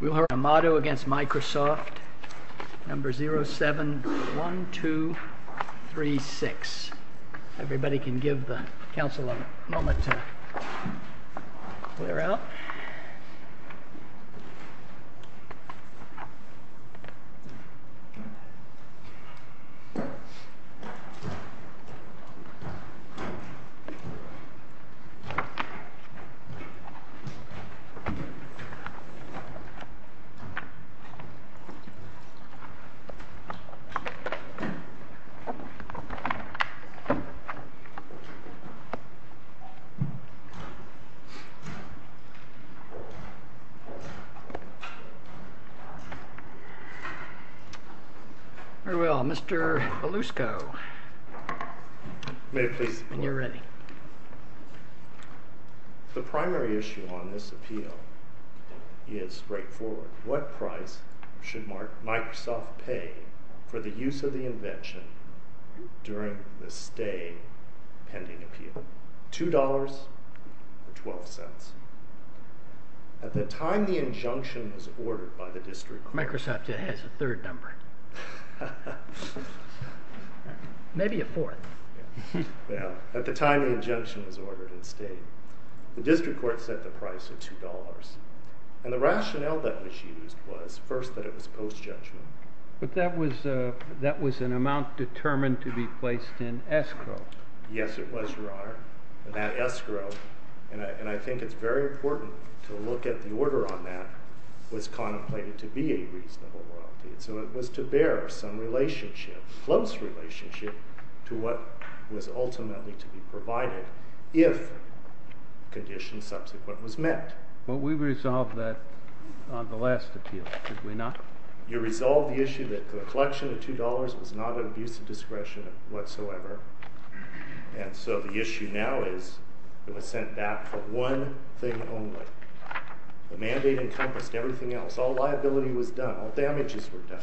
We'll hear Amado v. Microsoft, number 071236. Everybody can give the council a moment to clear out. Very well, Mr. Belusco, when you're ready. The primary issue on this appeal is straightforward. What price should Microsoft pay for the use of the invention during the stay pending appeal? $2.12. At the time the injunction was ordered by the district court. Microsoft has a third number. Maybe a fourth. Well, at the time the injunction was ordered and stayed, the district court set the price at $2. And the rationale that was used was, first, that it was post-judgment. But that was an amount determined to be placed in escrow. Yes, it was, Your Honor. And that escrow, and I think it's very important to look at the order on that, was contemplated to be a reasonable royalty. So it was to bear some relationship, close relationship, to what was ultimately to be provided if conditions subsequent was met. Well, we resolved that on the last appeal, did we not? You resolved the issue that the collection of $2.00 was not an abuse of discretion whatsoever. And so the issue now is it was sent back for one thing only. The mandate encompassed everything else. All liability was done. All damages were done.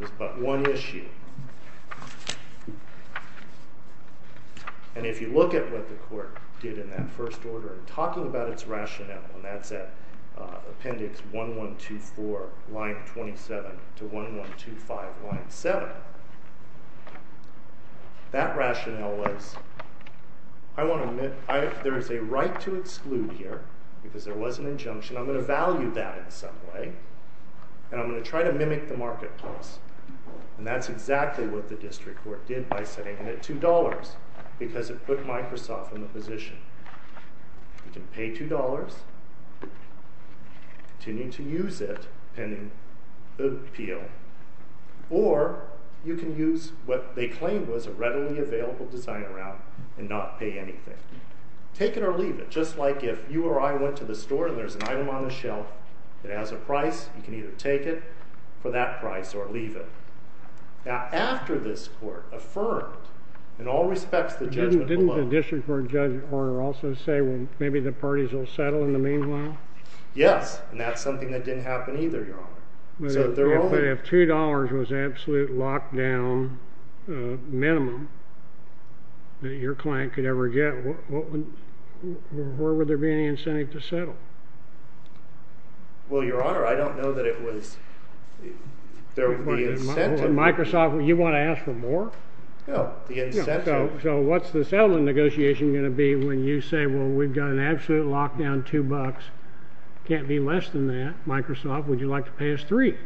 It was but one issue. And if you look at what the court did in that first order, talking about its rationale, and that's at appendix 1124, line 27, to 1125, line 7, that rationale was, I want to admit there is a right to exclude here, because there was an injunction. I'm going to value that in some way, and I'm going to try to mimic the marketplace. And that's exactly what the district court did by setting it at $2.00, because it put Microsoft in the position. You can pay $2.00, continue to use it, pending appeal, or you can use what they claimed was a readily available design around and not pay anything. Take it or leave it. Just like if you or I went to the store and there's an item on the shelf that has a price, you can either take it for that price or leave it. Now, after this court affirmed, in all respects, the judgment below. Didn't the district court judge also say, well, maybe the parties will settle in the meanwhile? Yes. And that's something that didn't happen either, Your Honor. But if $2.00 was absolute lockdown minimum that your client could ever get, what would there be any incentive to settle? Well, Your Honor, I don't know that it was. There would be incentive. Hold on. Microsoft, you want to ask for more? No. The incentive. So what's the settlement negotiation going to be when you say, well, we've got an absolute lockdown, $2.00. Can't be less than that. Microsoft, would you like to pay us $3.00?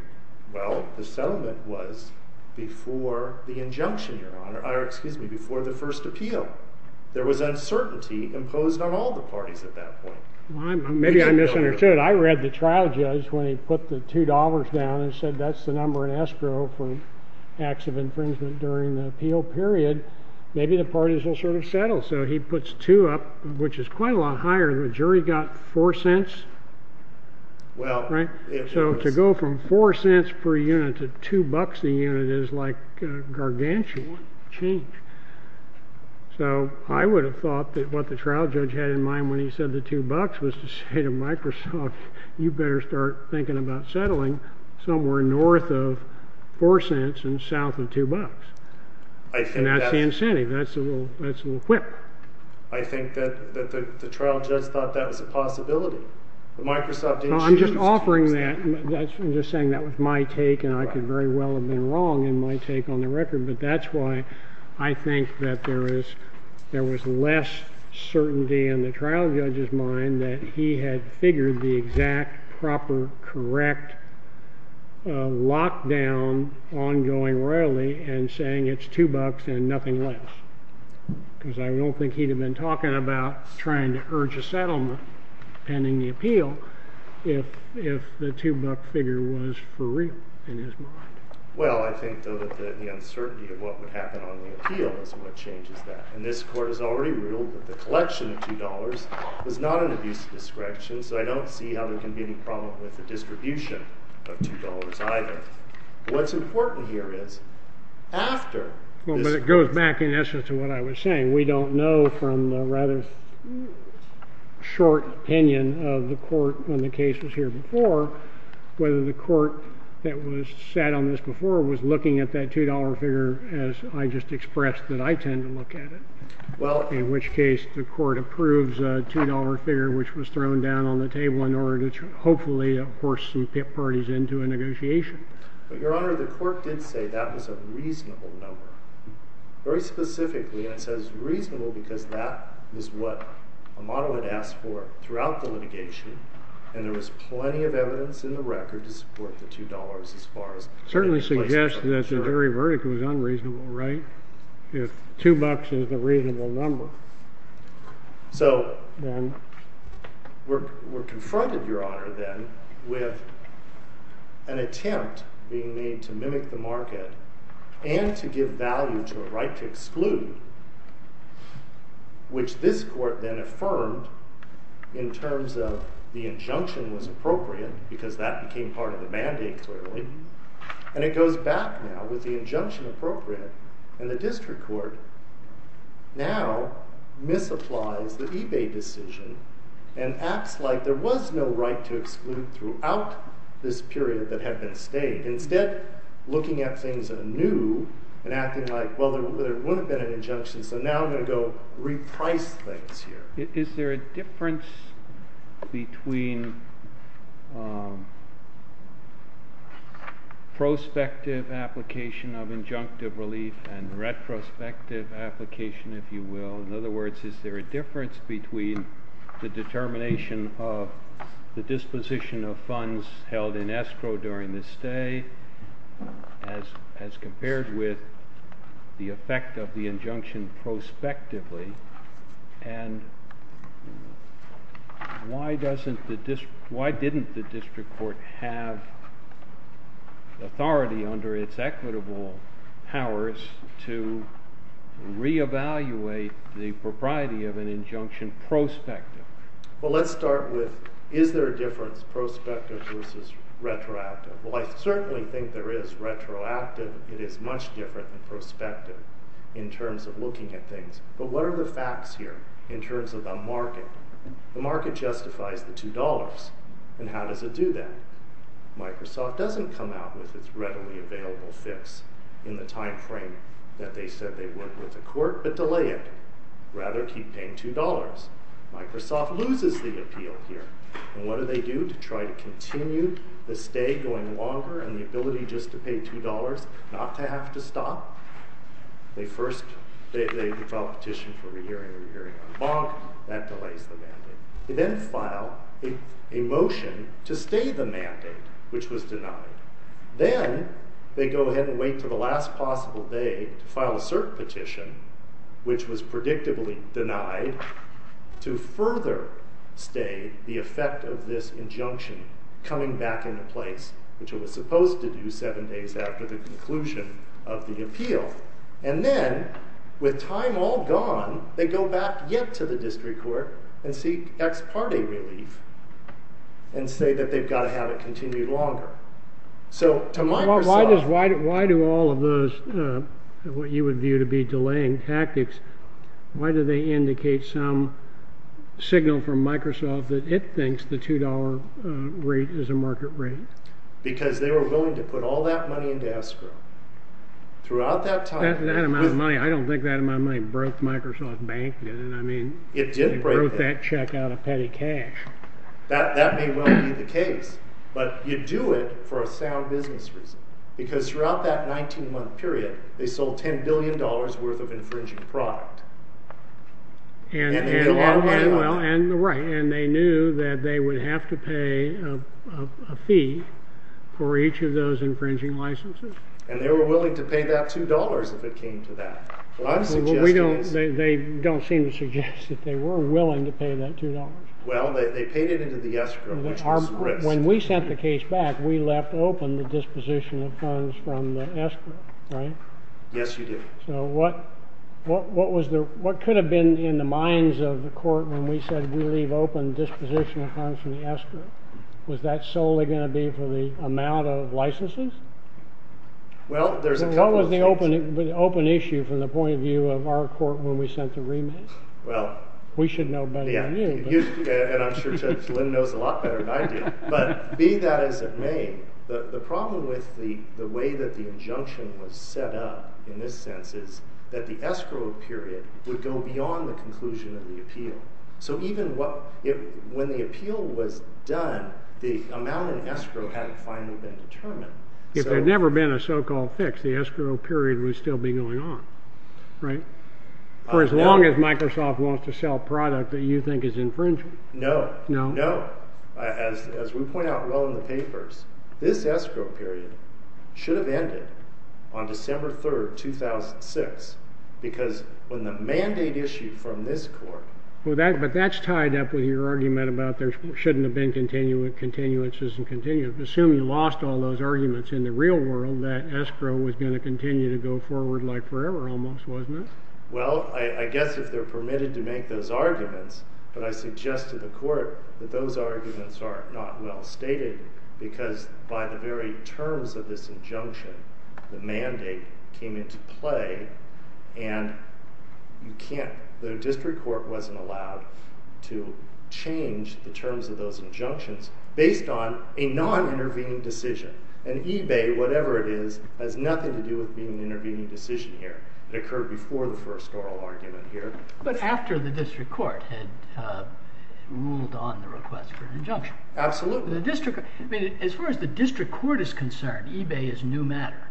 Well, the settlement was before the injunction, Your Honor, or excuse me, before the first appeal. There was uncertainty imposed on all the parties at that point. Maybe I misunderstood. I read the trial judge when he put the $2.00 down and said, that's the number in escrow for acts of infringement during the appeal period. Maybe the parties will sort of settle. So he puts $2.00 up, which is quite a lot higher. The jury got $0.04, right? So to go from $0.04 per unit to $2.00 a unit is like gargantuan change. So I would have thought that what the trial judge had in mind when he said the $2.00 was to say to Microsoft, you better start thinking about settling somewhere north of $0.04 and south of $2.00. And that's the incentive. That's a little quip. I think that the trial judge thought that was a possibility. But Microsoft didn't choose to choose that. I'm just offering that. I'm just saying that was my take, and I could very well have been wrong in my take on the record. But that's why I think that there was less certainty in the trial judge's mind that he had figured the exact, proper, correct lockdown ongoing royalty and saying it's $2.00 and nothing less. Because I don't think he'd have been talking about trying to urge a settlement pending the appeal if the $2.00 figure was for real in his mind. Well, I think, though, that the uncertainty of what would happen on the appeal is what changes that. And this Court has already ruled that the collection of $2.00 was not an abuse of discretion. So I don't see how there can be any problem with the distribution of $2.00 either. What's important here is after— Well, but it goes back, in essence, to what I was saying. We don't know from the rather short opinion of the Court when the case was here before whether the Court that was sat on this before was looking at that $2.00 figure as I just expressed that I tend to look at it. In which case, the Court approves a $2.00 figure which was thrown down on the table in order to hopefully force some parties into a negotiation. But, Your Honor, the Court did say that was a reasonable number. Very specifically, and it says reasonable because that is what Amado had asked for throughout the litigation. And there was plenty of evidence in the record to support the $2.00 as far as— Certainly suggested that the jury verdict was unreasonable, right? If $2.00 is a reasonable number. So we're confronted, Your Honor, then with an attempt being made to mimic the market and to give value to a right to exclude, which this Court then affirmed in terms of the injunction was appropriate because that became part of the mandate, clearly. And it goes back now with the injunction appropriate, and the District Court now misapplies the eBay decision and acts like there was no right to exclude throughout this period that had been stayed. Instead, looking at things anew and acting like, well, there wouldn't have been an injunction, so now I'm going to go reprice things here. Is there a difference between prospective application of injunctive relief and retrospective application, if you will? In other words, is there a difference between the determination of the disposition of funds held in escrow during the stay as compared with the effect of the injunction prospectively? And why didn't the District Court have authority under its equitable powers to re-evaluate the propriety of an injunction prospectively? Well, let's start with, is there a difference, prospective versus retroactive? Well, I certainly think there is retroactive. It is much different than prospective in terms of looking at things. But what are the facts here in terms of the market? The market justifies the $2, and how does it do that? Microsoft doesn't come out with its readily available fix in the time frame that they said they would with the Court, but delay it. Rather, keep paying $2. Microsoft loses the appeal here, and what do they do to try to continue the stay going longer, and the ability just to pay $2, not to have to stop? They first, they file a petition for re-hearing, re-hearing on bond, that delays the mandate. They then file a motion to stay the mandate, which was denied. Then, they go ahead and wait until the last possible day to file a cert petition, which was predictably denied, to further stay the effect of this injunction coming back into place, which it was supposed to do seven days after the conclusion of the appeal. And then, with time all gone, they go back yet to the District Court and seek ex parte relief, and say that they've got to have it continued longer. So, to Microsoft- Why do all of those, what you would view to be delaying tactics, why do they indicate some Microsoft that it thinks the $2 rate is a market rate? Because they were willing to put all that money into escrow. Throughout that time- That amount of money, I don't think that amount of money broke Microsoft Bank, did it? I mean, it broke that check out of petty cash. That may well be the case, but you do it for a sound business reason, because throughout that 19-month period, they sold $10 billion worth of infringing product. And they knew that they would have to pay a fee for each of those infringing licenses. And they were willing to pay that $2 if it came to that. What I'm suggesting is- They don't seem to suggest that they were willing to pay that $2. Well, they paid it into the escrow, which was risk. When we sent the case back, we left open the disposition of funds from the escrow, right? Yes, you did. So, what could have been in the minds of the court when we said, we leave open disposition of funds from the escrow? Was that solely going to be for the amount of licenses? Well, there's- What was the open issue from the point of view of our court when we sent the remit? Well- We should know better than you. And I'm sure Judge Lynn knows a lot better than I do. But be that as it may, the problem with the way that the injunction was set up in this sense is that the escrow period would go beyond the conclusion of the appeal. So even when the appeal was done, the amount in escrow hadn't finally been determined. If there'd never been a so-called fix, the escrow period would still be going on, right? For as long as Microsoft wants to sell product that you think is infringing. No, no. As we point out well in the papers, this escrow period should have ended on December 3rd, 2006. Because when the mandate issued from this court- But that's tied up with your argument about there shouldn't have been continuances and continuances. Assume you lost all those wasn't it? Well, I guess if they're permitted to make those arguments, but I suggest to the court that those arguments are not well stated because by the very terms of this injunction, the mandate came into play and you can't- The district court wasn't allowed to change the terms of those injunctions based on a non-intervening decision. And eBay, whatever it is, has nothing to do with occurred before the first oral argument here. But after the district court had ruled on the request for an injunction. Absolutely. As far as the district court is concerned, eBay is new matter.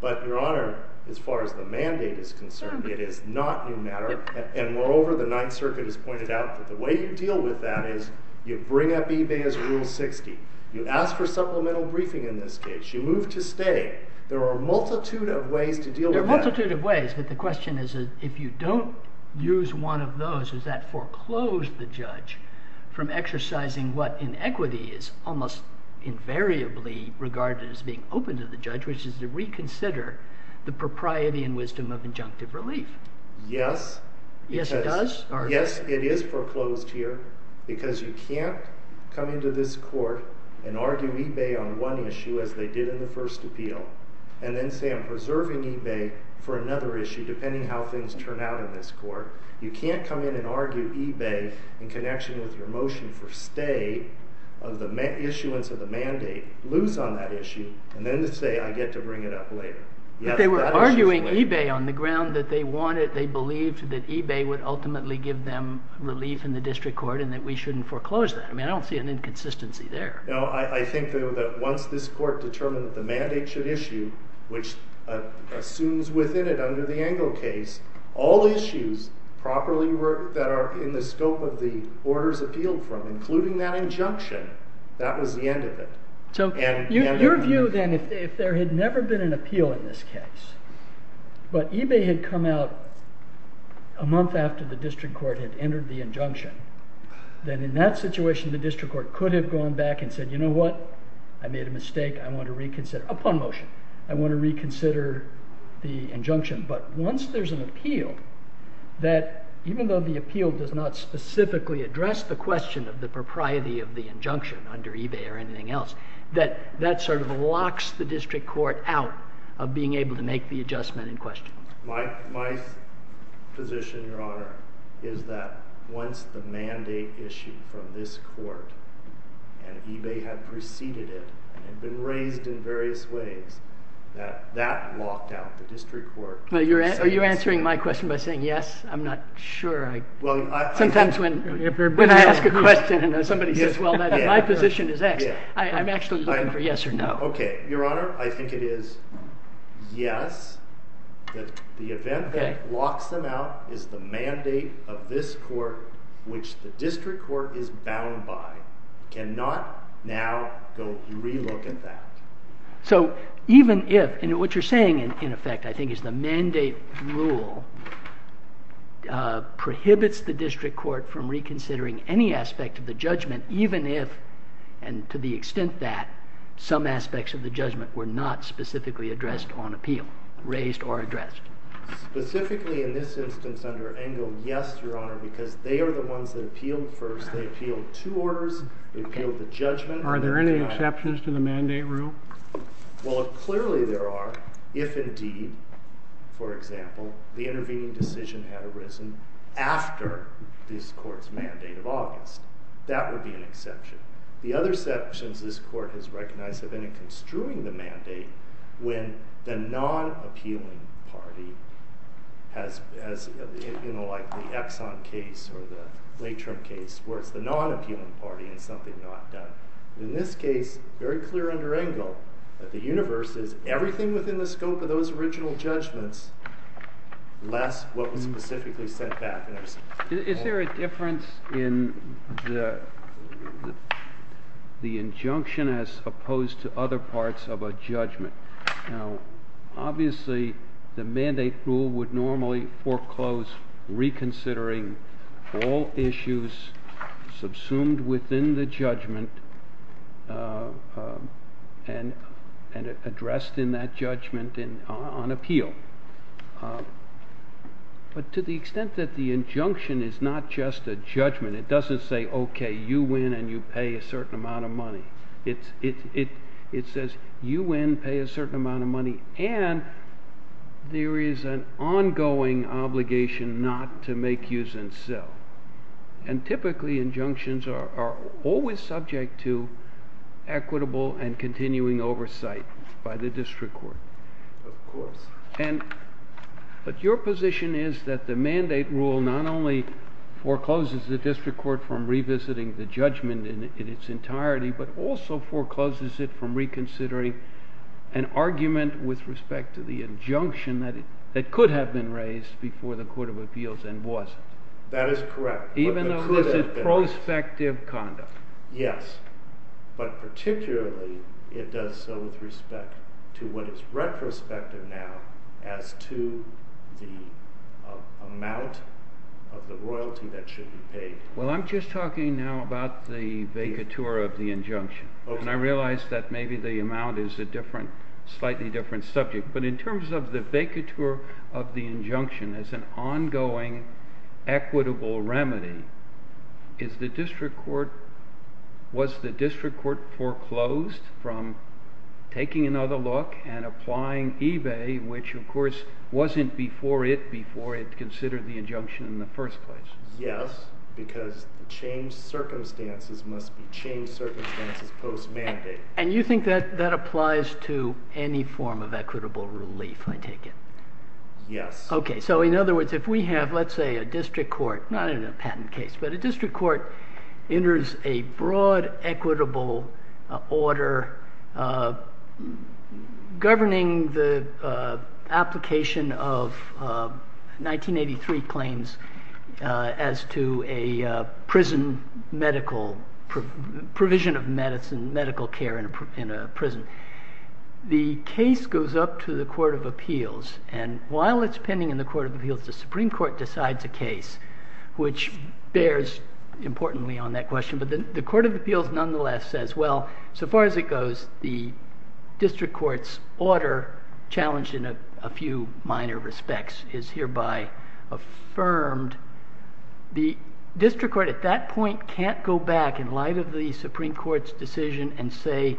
But your honor, as far as the mandate is concerned, it is not new matter. And moreover, the Ninth Circuit has pointed out that the way you deal with that is you bring up eBay as Rule 60. You ask for supplemental briefing in this case. You move to stay. There are a multitude of ways There are a multitude of ways, but the question is if you don't use one of those, does that foreclose the judge from exercising what in equity is almost invariably regarded as being open to the judge, which is to reconsider the propriety and wisdom of injunctive relief? Yes. Yes, it does? Yes, it is foreclosed here because you can't come into this court and argue eBay on one issue as they did in the first appeal and then say I'm preserving eBay for another issue depending how things turn out in this court. You can't come in and argue eBay in connection with your motion for stay of the issuance of the mandate, lose on that issue, and then say I get to bring it up later. But they were arguing eBay on the ground that they wanted, they believed that eBay would ultimately give them relief in the district court and that we shouldn't foreclose that. I mean, I don't see an inconsistency there. No, I think though that once this court determined that the mandate should issue, which assumes within it under the Engle case, all issues properly that are in the scope of the orders appealed from, including that injunction, that was the end of it. So your view then, if there had never been an appeal in this case, but eBay had come out a month after the court could have gone back and said, you know what, I made a mistake, I want to reconsider, upon motion, I want to reconsider the injunction. But once there's an appeal, that even though the appeal does not specifically address the question of the propriety of the injunction under eBay or anything else, that sort of locks the district court out of being able to make the adjustment in question. My position, your honor, is that once the mandate issued from this court and eBay had preceded it and been raised in various ways, that that locked out the district court. Are you answering my question by saying yes? I'm not sure. Sometimes when I ask a question and somebody says, well, my position is X, I'm actually looking for yes or no. Okay, your honor, I think it is yes, that the event that locks them out is the mandate of this court, which the district court is bound by, cannot now go re-look at that. So even if, and what you're saying in effect, I think, is the mandate rule prohibits the district court from reconsidering any aspect of the judgment, even if, and to the extent that, some aspects of the judgment were not specifically addressed on appeal, raised or addressed. Specifically in this instance under Engel, yes, your honor, because they are the ones that appealed first. They appealed two orders. They appealed the judgment. Are there any exceptions to the mandate rule? Well, clearly there are, if indeed, for example, the intervening decision had arisen after this court's mandate of August, that would be an exception. The other sections this court has recognized have been in construing the mandate when the non-appealing party has, you know, like the Exxon case or the late-term case where it's the non-appealing party and it's something not done. In this case, very clear under Engel, that the universe is everything within the scope of those original judgments, less what was specifically sent back. Is there a difference in the injunction as opposed to other parts of a judgment? Now, obviously, the mandate rule would normally foreclose reconsidering all issues subsumed within the judgment and addressed in that judgment on appeal. But to the extent that the injunction is not just a judgment, it doesn't say, okay, you win and you pay a certain amount of money. It says you win, pay a certain amount of money, and there is an ongoing obligation not to make use and sell. And typically, injunctions are always subject to equitable and continuing oversight by the district court. Of course. But your position is that the mandate rule not only forecloses the district court from revisiting the judgment in its entirety, but also forecloses it from reconsidering an argument with respect to the injunction that could have been raised before the court of appeals and wasn't. That is correct. Even though this is prospective conduct. Yes. But particularly, it does so with respect to what is retrospective now as to the amount of the royalty that should be paid. Well, I'm just talking now about the vacatur of the injunction. And I realized that maybe the amount is a different, slightly different subject. But in ongoing equitable remedy, is the district court, was the district court foreclosed from taking another look and applying eBay, which of course wasn't before it before it considered the injunction in the first place? Yes. Because the changed circumstances must be changed circumstances post mandate. And you think that that applies to any form of equitable relief, I take it? Yes. Okay. So in other words, if we have, let's say a district court, not in a patent case, but a district court enters a broad equitable order governing the application of 1983 claims as to a prison medical provision of medicine, medical care in a prison. The case goes up to Court of Appeals. And while it's pending in the Court of Appeals, the Supreme Court decides a case, which bears importantly on that question. But the Court of Appeals nonetheless says, well, so far as it goes, the district court's order challenged in a few minor respects is hereby affirmed. The district court at that point can't go back in light of the Supreme Court's decision and say,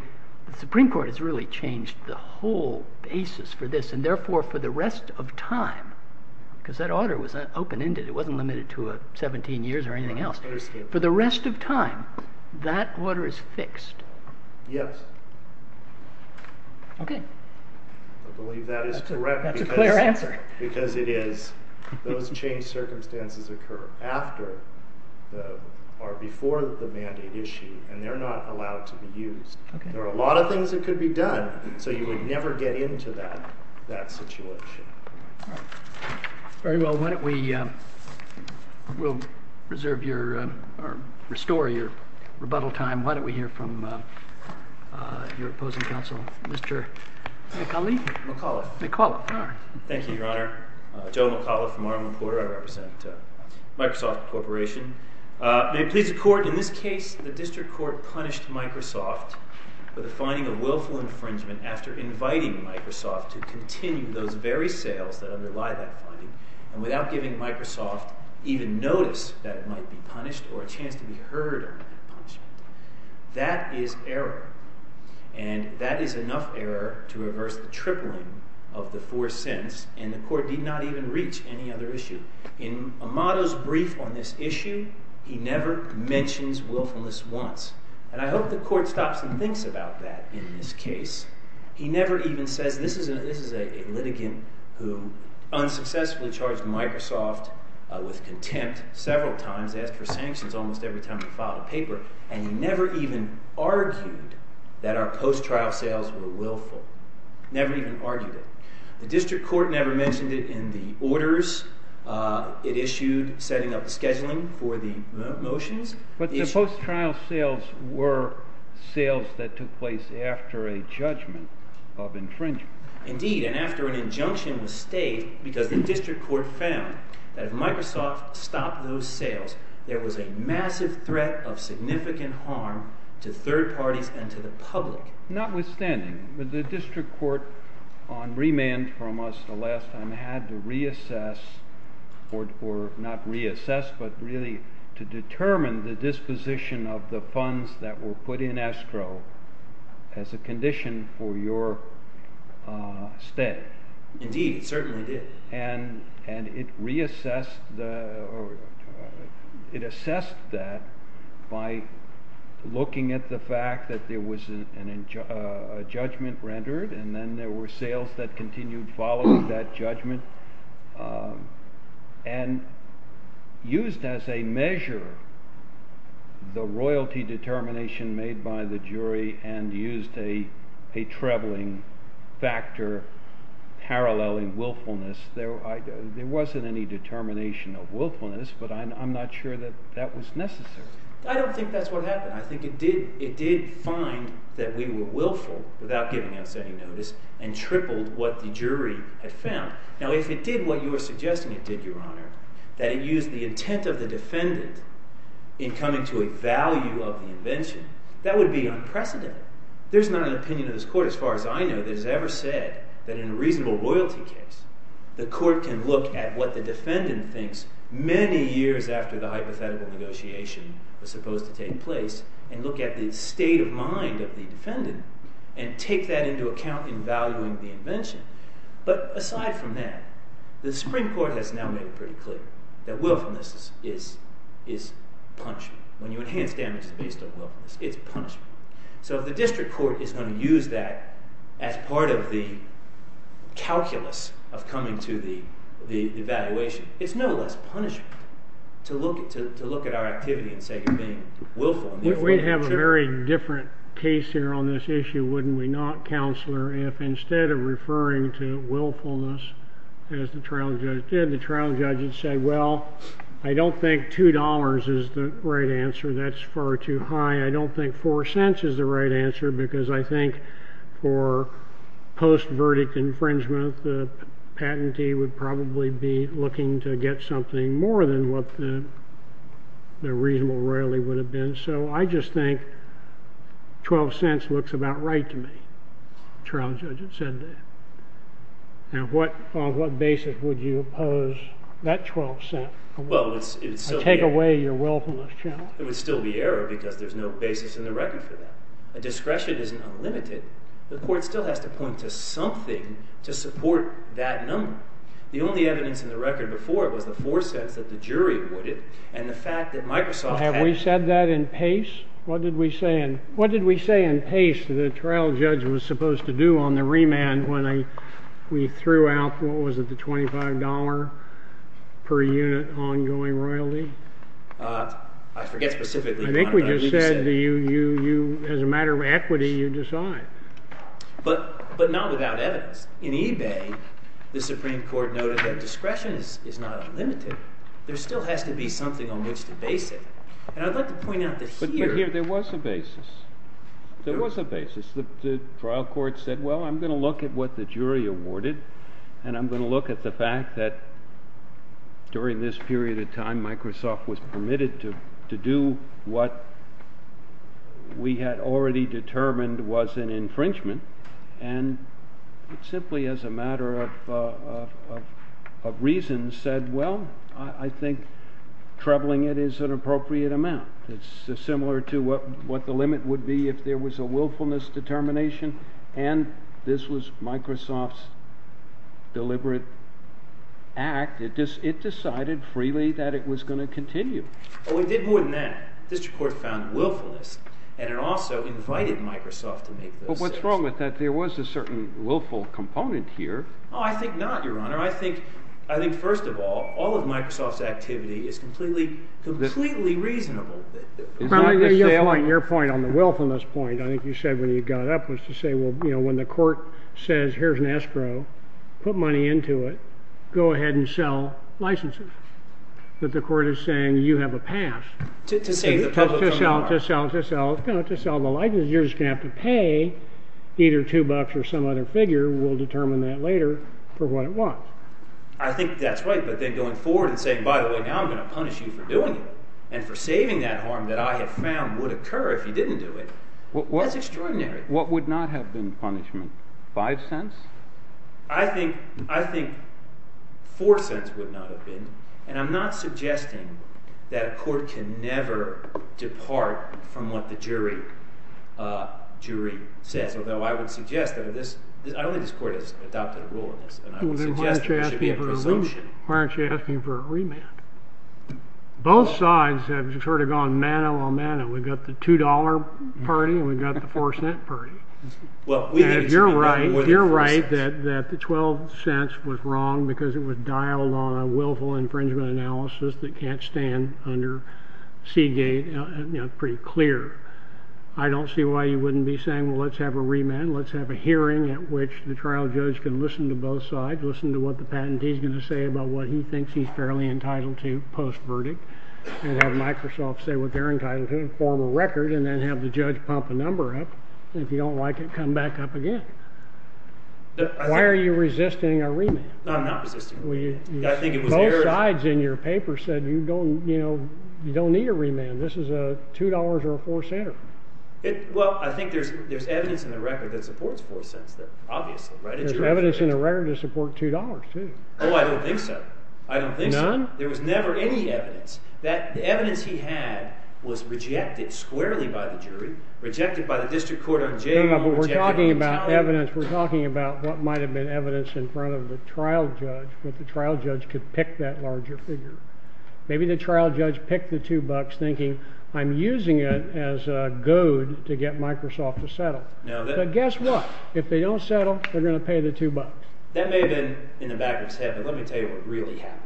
the Supreme Court has really changed the whole basis for this. And therefore, for the rest of time, because that order was open-ended, it wasn't limited to 17 years or anything else. For the rest of time, that order is fixed. Yes. Okay. I believe that is correct. That's a clear answer. Because it is. Those changed circumstances occur after or before the mandate issue, and they're not allowed to be used. There are a lot of things that could be done, so you would never get into that situation. All right. Very well. Why don't we restore your rebuttal time. Why don't we hear from your opposing counsel, Mr. McAuley? McAuliffe. McAuliffe. All right. Thank you, Your Honor. Joe McAuliffe from R.M. Porter. I represent Microsoft Corporation. May it please the Court, in this case, the district court punished Microsoft for the finding of willful infringement after inviting Microsoft to continue those very sales that underlie that finding, and without giving Microsoft even notice that it might be punished or a chance to be heard on that punishment. That is error. And that is enough error to reverse the motto's brief on this issue. He never mentions willfulness once. And I hope the Court stops and thinks about that in this case. He never even says this is a litigant who unsuccessfully charged Microsoft with contempt several times, asked for sanctions almost every time he filed a paper, and he never even argued that our post-trial sales were willful. Never even argued it. The district court never mentioned it in the orders it issued setting up the scheduling for the motions. But the post-trial sales were sales that took place after a judgment of infringement. Indeed. And after an injunction was staked because the district court found that if Microsoft stopped those sales, there was a massive threat of significant harm to third parties and to the public. And the district court, again, from us the last time, had to reassess, or not reassess, but really to determine the disposition of the funds that were put in escrow as a condition for your stay. Indeed, it certainly did. And it reassessed, or it assessed that by looking at the fact that there was a judgment rendered and then there were sales that continued following that judgment and used as a measure the royalty determination made by the jury and used a trebling factor paralleling willfulness. There wasn't any determination of willfulness, but I'm not sure that that was necessary. I don't think that's what happened. I think it did. It did find that we were willful without giving us any notice and tripled what the jury had found. Now, if it did what you were suggesting it did, your honor, that it used the intent of the defendant in coming to a value of the invention, that would be unprecedented. There's not an opinion of this court, as far as I know, that has ever said that in a reasonable royalty case, the court can look at what the hypothetical negotiation was supposed to take place and look at the state of mind of the defendant and take that into account in valuing the invention. But aside from that, the Supreme Court has now made it pretty clear that willfulness is punishment. When you enhance damages based on willfulness, it's punishment. So if the district court is going to use that as part of the calculus of coming to the evaluation, it's no less punishment to look at our activity and say you're being willful. We'd have a very different case here on this issue, wouldn't we not, counselor, if instead of referring to willfulness, as the trial judge did, the trial judge had said, well, I don't think two dollars is the right answer. That's far too high. I don't think four cents is the right answer because I think for post-verdict infringement, the patentee would probably be looking to get something more than what the reasonable royalty would have been. So I just think 12 cents looks about right to me. The trial judge had said that. Now, what basis would you oppose that 12 cent? Well, it's still the error. Take away your willfulness challenge. It would still be error because there's no basis in the record for that. A discretion isn't unlimited. The court still has to point to something to support that number. The only evidence in the record before it was the four cents that the jury awarded and the fact that Microsoft had— Have we said that in pace? What did we say in pace that the trial judge was supposed to do on the remand when we threw out, what was it, the $25 per unit ongoing royalty? I forget specifically. I think we just said as a matter of equity, you decide. But not without evidence. In eBay, the Supreme Court noted that discretion is not unlimited. There still has to be something on which to base it. And I'd like to point out that here— But here, there was a basis. There was a basis. The trial court said, well, I'm going to look at what the jury awarded and I'm going to look at the fact that during this period of time, Microsoft was permitted to do what we had already determined was an infringement. And it simply, as a matter of reason, said, well, I think troubling it is an appropriate amount. It's similar to what the limit would be if there was a willfulness determination and this was Microsoft's deliberate act. It decided freely that it was going to continue. Oh, it did more than that. The district court found willfulness. And it also invited Microsoft to make those decisions. But what's wrong with that? There was a certain willful component here. Oh, I think not, Your Honor. I think, first of all, all of Microsoft's activity is completely reasonable. Probably just like your point on the willfulness point. I think you said when you got up was to say, well, you know, when the court says, here's an escrow, put money into it, go ahead and sell licenses. But the court is saying, you have a pass to sell the licenses. You're just going to have to pay either two bucks or some other figure. We'll determine that later for what it was. I think that's right. But then going forward and saying, by the way, I'm going to punish you for doing it and for saving that harm that I have found would occur if you didn't do it, that's extraordinary. What would not have been punishment? Five cents? I think four cents would not have been. And I'm not suggesting that a court can never depart from what the jury says, although I would suggest that this, I don't think this court has adopted a rule on this. And I would suggest there should be a presumption. Why aren't you asking for a remand? Both sides have sort of gone mano a mano. We've got the $2 party and we've got the four cent party. And if you're right that the 12 cents was wrong because it was dialed on a willful infringement analysis that can't stand under Seagate pretty clear, I don't see why you wouldn't be saying, well, let's have a remand. Let's have a hearing at which the trial judge can listen to both sides, listen to what the judge thinks he's fairly entitled to post-verdict and have Microsoft say what they're entitled to and form a record and then have the judge pump a number up. And if you don't like it, come back up again. Why are you resisting a remand? I'm not resisting a remand. I think it was your... Both sides in your paper said you don't need a remand. This is a $2 or a four center. Well, I think there's evidence in the record that supports four cents, obviously, right? There's evidence in the record to support $2 too. Oh, I don't think so. I don't think so. None? There was never any evidence. The evidence he had was rejected squarely by the jury, rejected by the district court on Jay. No, no, but we're talking about evidence. We're talking about what might have been evidence in front of the trial judge, but the trial judge could pick that larger figure. Maybe the trial judge picked the two bucks thinking, I'm using it as a goad to get Microsoft to settle. But guess what? If they don't settle, they're going to pay the two bucks. That may have been in the back of his head, but let me tell you what really happened.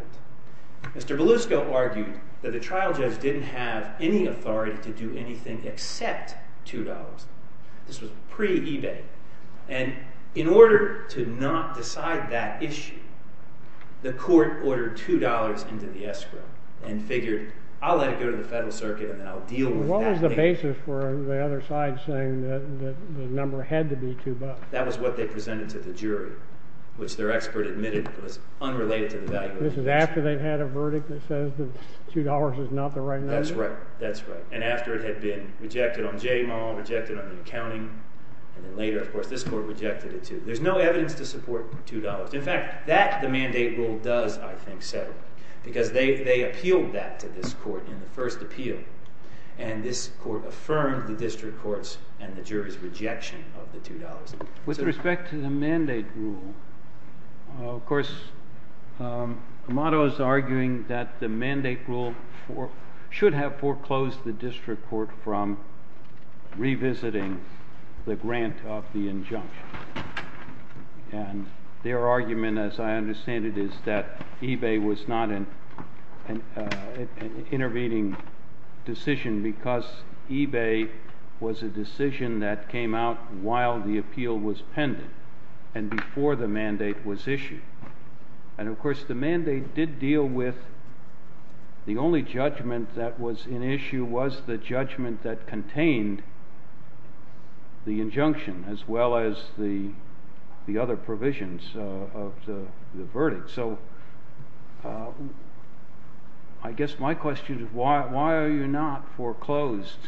Mr. Belusco argued that the trial judge didn't have any authority to do anything except $2. This was pre-ebay. And in order to not decide that issue, the court ordered $2 into the escrow and figured, I'll let it go to the federal circuit and then I'll deal with that. What was the basis for the other side saying that the number had to be two bucks? That was what they presented to the jury, which their expert admitted was unrelated to the value. This is after they've had a verdict that says that $2 is not the right number? That's right. That's right. And after it had been rejected on J Maul, rejected on the accounting, and then later, of course, this court rejected it too. There's no evidence to support $2. In fact, that the mandate rule does, I think, settle because they appealed that to this court in the first appeal. And this court affirmed the district courts and the jury's rejection of the $2. With respect to the mandate rule, of course, Amato is arguing that the mandate rule should have foreclosed the district court from revisiting the grant of the injunction. And their argument, as I understand it, is that eBay was not an intervening decision because eBay was a decision that came out while the appeal was pending and before the mandate was issued. And, of course, the mandate did deal with the only judgment that was in issue was the judgment that contained the injunction as well as the other provisions of the verdict. So I guess my question is why are you not foreclosed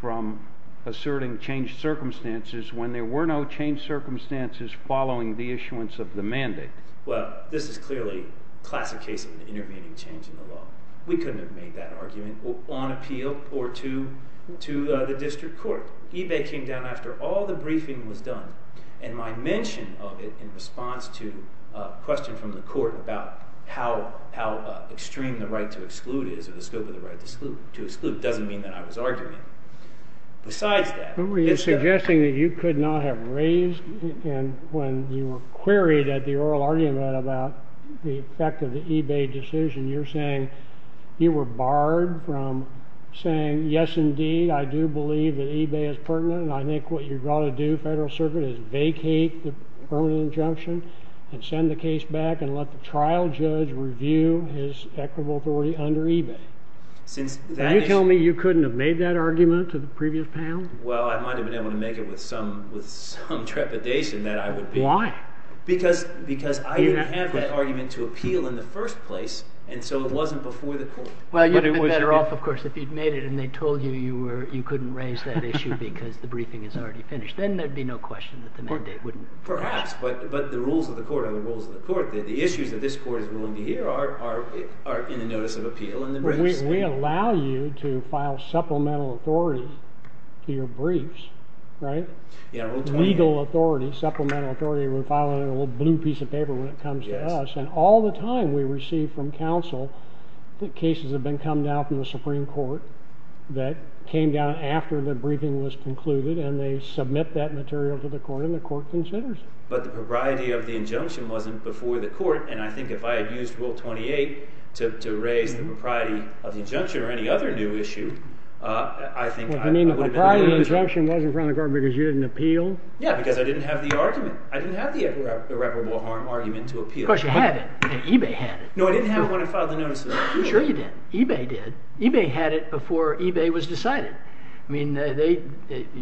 from asserting changed circumstances when there were no changed circumstances following the issuance of the mandate? Well, this is clearly classic case of an intervening change in the law. We couldn't have made that argument on appeal or to the district court. eBay came down after all the briefing was done. And my mention of it in response to a question from the court about how extreme the right to exclude is or the scope of the right to exclude doesn't mean that I was arguing. Besides that, who were you suggesting that you could not have raised when you were queried at the oral argument about the effect of the eBay decision? You're saying you were barred from saying, yes, indeed, I do believe that eBay is pertinent. And I think what you've got to do, Federal Circuit, is vacate the permanent injunction and send the case back and let the trial judge review his equitable authority under eBay. Can you tell me you couldn't have made that argument to the previous panel? Well, I might have been able to make it with some trepidation that I would be. Why? Because I didn't have that argument to appeal in the first place. And so it wasn't before the court. Well, you'd have been better off, of course, if you'd made it and they told you you couldn't raise that issue because the rules of the court are the rules of the court. The issues that this court is willing to hear are in the notice of appeal. We allow you to file supplemental authority to your briefs, right? Legal authority, supplemental authority, we file it in a little blue piece of paper when it comes to us. And all the time we receive from counsel that cases have been come down from the Supreme Court that came down after the briefing was concluded and they submit that material to the court and the court considers it. But the propriety of the injunction wasn't before the court. And I think if I had used Rule 28 to raise the propriety of the injunction or any other new issue, I think I would have been better off. You mean the propriety of the injunction wasn't before the court because you didn't appeal? Yeah, because I didn't have the argument. I didn't have the irreparable harm argument to appeal. Of course you had it. eBay had it. No, I didn't have it when I filed the notice of appeal. Sure you did. eBay did. eBay had it before eBay was decided. I mean,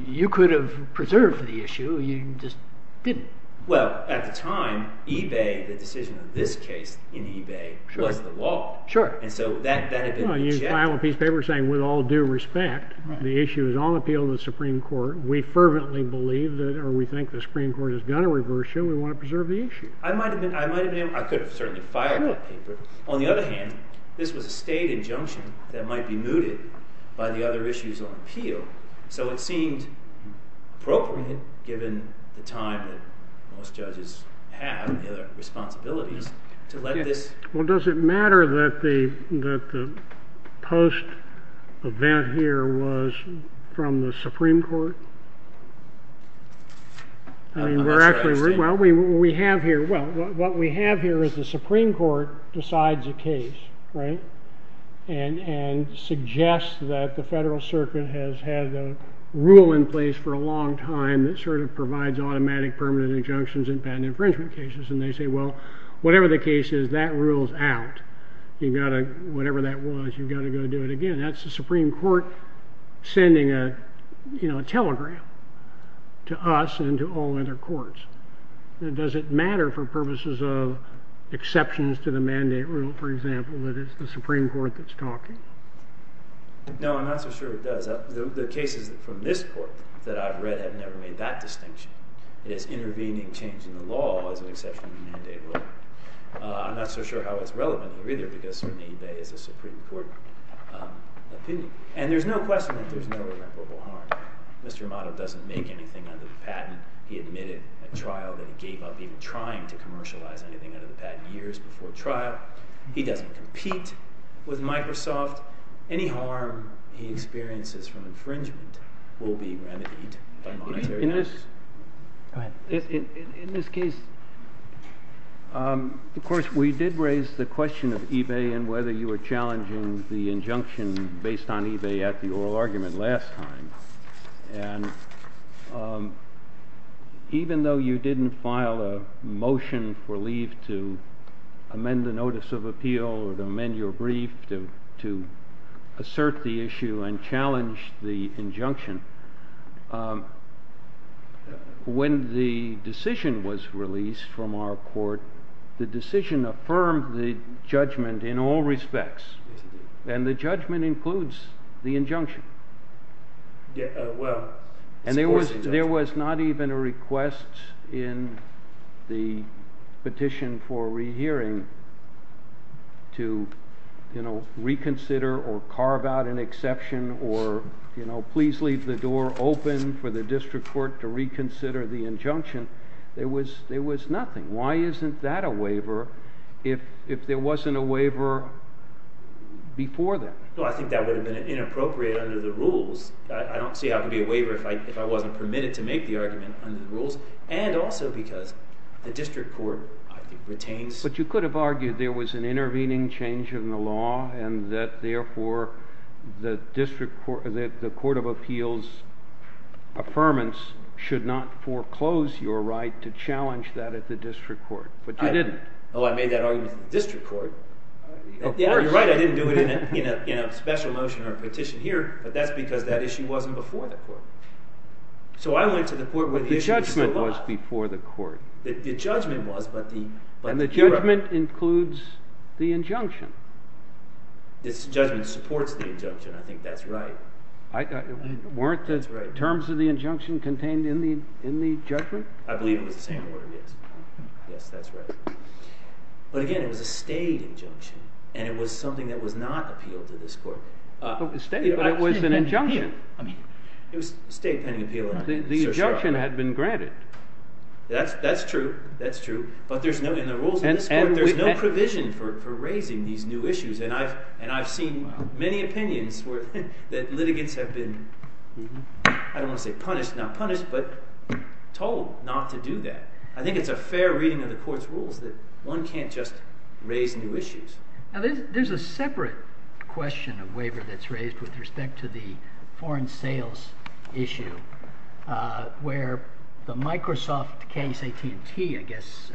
you could have preserved the issue. You just didn't. Well, at the time eBay, the decision of this case in eBay was the law. Sure. And so that had been rejected. Well, you file a piece of paper saying with all due respect, the issue is on appeal in the Supreme Court. We fervently believe that or we think the Supreme Court is going to reverse you. We want to preserve the issue. I might have been able, I could have certainly filed that paper. On the other hand, this was a state injunction that might be mooted by the other issues on appeal. So it seemed appropriate given the time that most judges have and their responsibilities to let this. Well, does it matter that the post event here was from the Supreme Court? I mean, we're actually, well, we have here, well, what we have here is the Supreme Court decides a case, right? And suggest that the Federal Circuit has had a rule in place for a long time that sort of provides automatic permanent injunctions in patent infringement cases. And they say, well, whatever the case is, that rule's out. You've got to, whatever that was, you've got to go do it again. That's the Does it matter for purposes of exceptions to the mandate rule, for example, that it's the Supreme Court that's talking? No, I'm not so sure it does. The cases from this court that I've read have never made that distinction. It is intervening change in the law as an exception to the mandate rule. I'm not so sure how it's relevant here either, because for me that is a Supreme Court opinion. And there's no question that there's no irreparable harm. Mr. Amato doesn't make anything out of the patent. He admitted at trial that he gave up even trying to commercialize anything out of the patent years before trial. He doesn't compete with Microsoft. Any harm he experiences from infringement will be remedied by monetary measures. In this case, of course, we did raise the question of eBay and whether you were challenging the injunction based on eBay at the oral argument last time. And even though you didn't file a motion for leave to amend the notice of appeal or to amend your brief to assert the issue and challenge the injunction, when the decision was released from our court, the decision affirmed the judgment in all respects. And the judgment includes the injunction. And there was not even a request in the petition for rehearing to reconsider or carve out an exception or please leave the door open for the district court to reconsider the injunction. There was nothing. Why isn't that a waiver if there wasn't a waiver before that? Well, I think that would have been inappropriate under the rules. I don't see how it could be a waiver if I wasn't permitted to make the argument under the rules. And also because the district court, I think, retains- But you could have argued there was an intervening change in the law and that, therefore, the court of appeals' affirmance should not foreclose your right to challenge that at the district court. But you didn't. Oh, I made that argument at the district court. Of course. Yeah, you're right. I didn't do it in a special motion or a petition here. But that's because that issue wasn't before the court. So I went to the court when the issue was still up. But the judgment was before the court. The judgment was, but the juror- And the judgment includes the injunction. This judgment supports the injunction. I think that's right. Weren't the terms of the injunction contained in the judgment? I believe it was the same word, yes. Yes, that's right. But again, it was a state injunction. And it was something that was not appealed to this court. It was a state, but it was an injunction. I mean, it was a state pending appeal. The injunction had been granted. That's true. That's true. But in the rules of this court, there's no provision for raising these new issues. And I've seen many opinions that litigants have been, I don't want to say not punished, but told not to do that. I think it's a fair reading of the court's rules that one can't just raise new issues. Now there's a separate question of waiver that's raised with respect to the foreign sales issue where the Microsoft case, AT&T, I guess,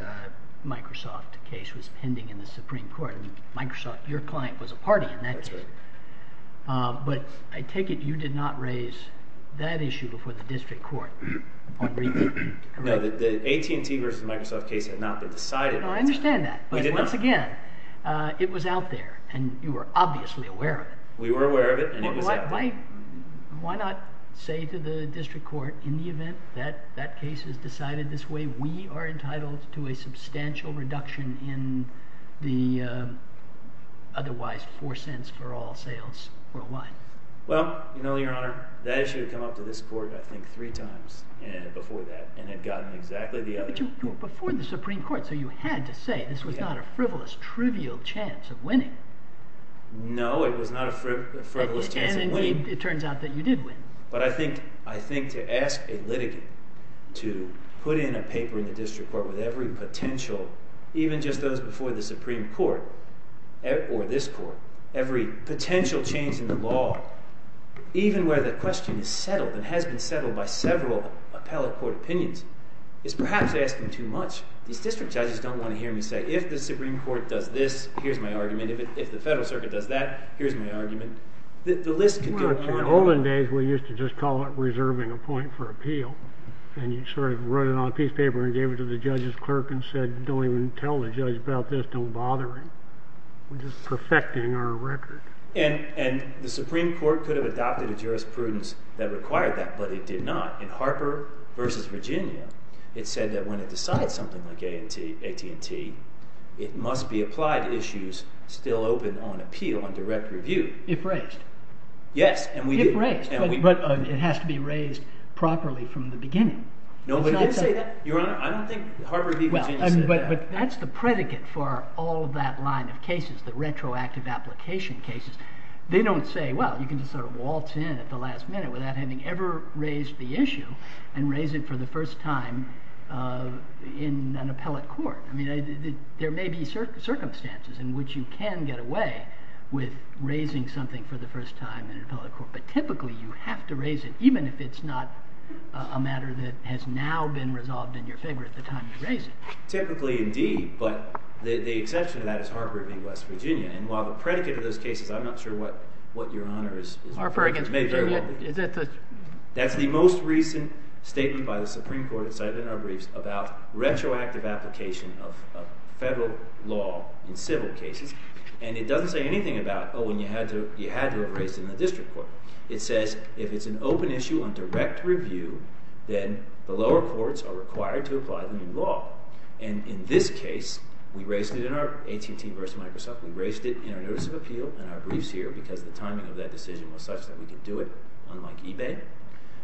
Microsoft case was pending in the Supreme Court. Microsoft, your client, was a party in that case. But I take it you did not raise that issue before the district court? No, the AT&T versus Microsoft case had not been decided. I understand that. But once again, it was out there and you were obviously aware of it. We were aware of it. Why not say to the district court in the event that that case is decided this way, we are entitled to a substantial reduction in the otherwise four cents for all sales worldwide? Well, you know, your honor, that issue had come up to this court, I think, three times before that, and had gotten exactly the other. But you were before the Supreme Court. So you had to say this was not a frivolous, trivial chance of winning. No, it was not a frivolous chance of winning. It turns out that you did win. But I think to ask a litigant to put in a paper in the district court with every potential, even just those before the Supreme Court, or this court, every potential change in the law, even where the question is settled and has been settled by several appellate court opinions, is perhaps asking too much. These district judges don't want to hear me say, if the Supreme Court does this, here's my argument. If the federal circuit does that, here's my argument. The list could go on and on. In olden days, we used to just call it reserving a point for appeal. And you sort of wrote it on a piece of paper and gave it to the judge's clerk and said, don't even tell the judge about this. Don't bother him. We're just perfecting our record. And the Supreme Court could have adopted a jurisprudence that required that. But it did not. In Harper v. Virginia, it said that when it decides something like AT&T, it must be applied to issues still open on appeal, on direct review. If raised. Yes, and we do. If raised, but it has to be raised properly from the beginning. Nobody did say that, Your Honor. I don't think Harper v. Virginia said that. But that's the predicate for all of that line of cases, the retroactive application cases. They don't say, well, you can just sort of waltz in at the last minute without having ever raised the issue and raise it for the first time in an appellate court. There may be circumstances in which you can get away with raising something for the first time in an appellate court. But typically, you have to raise it, even if it's not a matter that has now been resolved in your favor at the time you raise it. Typically, indeed. But the exception to that is Harper v. West Virginia. And while the predicate of those cases, I'm not sure what your honor is. Harper v. Virginia, is that the? That's the most recent statement by the Supreme Court, it's cited in our briefs, retroactive application of federal law in civil cases. And it doesn't say anything about, oh, you had to have raised it in the district court. It says, if it's an open issue on direct review, then the lower courts are required to apply the new law. And in this case, we raised it in our AT&T v. Microsoft. We raised it in our notice of appeal in our briefs here, because the timing of that decision was such that we could do it, unlike eBay.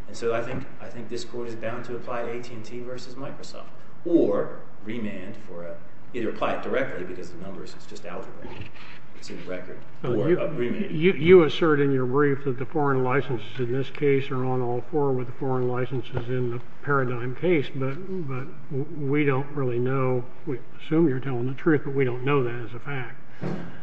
And so I think this court is bound to apply to AT&T v. Microsoft, or remand, or either apply it directly, because the numbers, it's just algebra, it's in the record, or remand. You assert in your brief that the foreign licenses in this case are on all four with the foreign licenses in the Paradigm case. But we don't really know. We assume you're telling the truth, but we don't know that as a fact.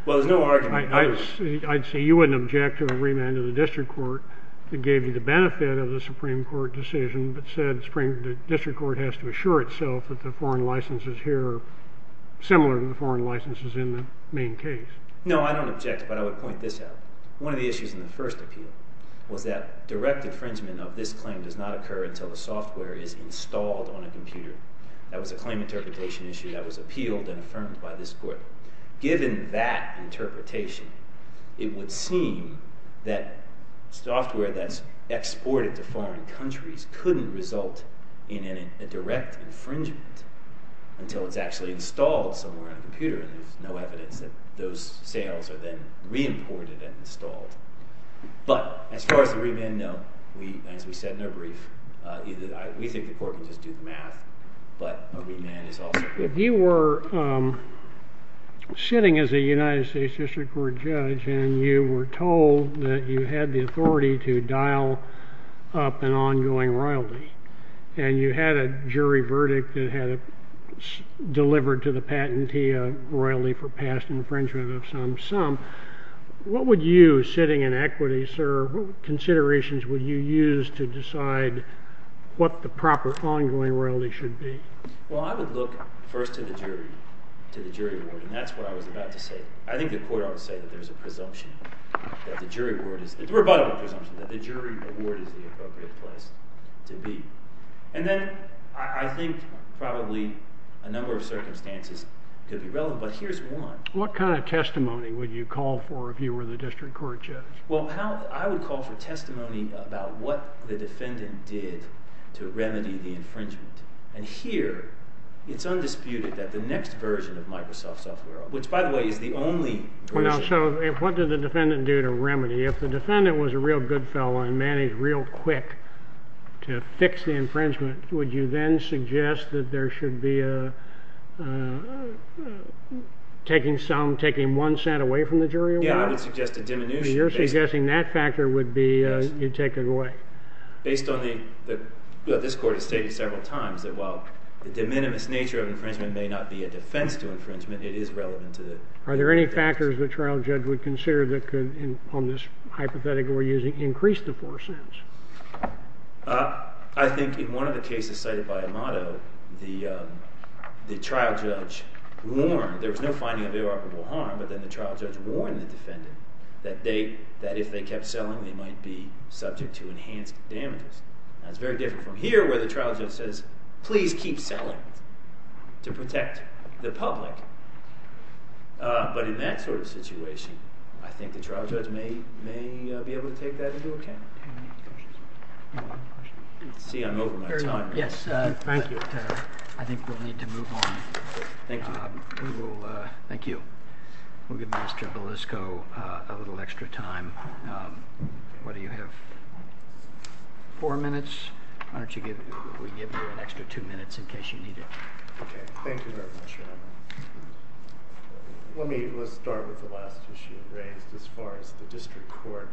Well, there's no argument there. I'd say you wouldn't object to a remand of the district court that gave you the benefit of the Supreme Court decision, but said the Supreme District Court has to assure itself that the foreign licenses here are similar to the foreign licenses in the main case. No, I don't object, but I would point this out. One of the issues in the first appeal was that direct infringement of this claim does not occur until the software is installed on a computer. That was a claim interpretation issue that was appealed and affirmed by this court. Given that interpretation, it would seem that software that's exported to foreign countries couldn't result in a direct infringement until it's actually installed somewhere on a computer, and there's no evidence that those sales are then re-imported and installed. But as far as the remand, no, as we said in our brief, we think the court can just do the math, but a remand is also... If you were sitting as a United States District Court judge and you were told that you had the authority to dial up an ongoing royalty, and you had a jury verdict that had delivered to the patentee a royalty for past infringement of some sum, what would you, sitting in equity, sir, what considerations would you use to decide what the proper ongoing royalty should be? Well, I would look first to the jury, to the jury award, and that's what I was about to say. I think the court ought to say that there's a presumption that the jury award is... It's a rebuttable presumption that the jury award is the appropriate place to be. And then I think probably a number of circumstances could be relevant, but here's one. What kind of testimony would you call for if you were the District Court judge? Well, I would call for testimony about what the defendant did to remedy the infringement. And here, it's undisputed that the next version of Microsoft software, which, by the way, is the only version... So what did the defendant do to remedy? If the defendant was a real good fellow and managed real quick to fix the infringement, would you then suggest that there should be a... Taking some, taking one cent away from the jury award? Yeah, I would suggest a diminution. You're suggesting that factor would be taken away? Based on the... This court has stated several times that while the de minimis nature of infringement may not be a defense to infringement, it is relevant to the... Are there any factors the trial judge would consider that could, on this hypothetical we're using, increase the four cents? I think in one of the cases cited by Amato, the trial judge warned... There was no finding of irreparable harm, but then the trial judge warned the defendant that if they kept selling, they might be subject to enhanced damages. Now, it's very different from here, where the trial judge says, please keep selling to protect the public. But in that sort of situation, I think the trial judge may be able to take that into account. See, I'm over my time. Yes, thank you. I think we'll need to move on. Thank you. Thank you. We'll give Mr. Belisco a little extra time. What do you have? Four minutes? Why don't we give you an extra two minutes in case you need it? Okay. Thank you very much. Let's start with the last issue raised. As far as the district court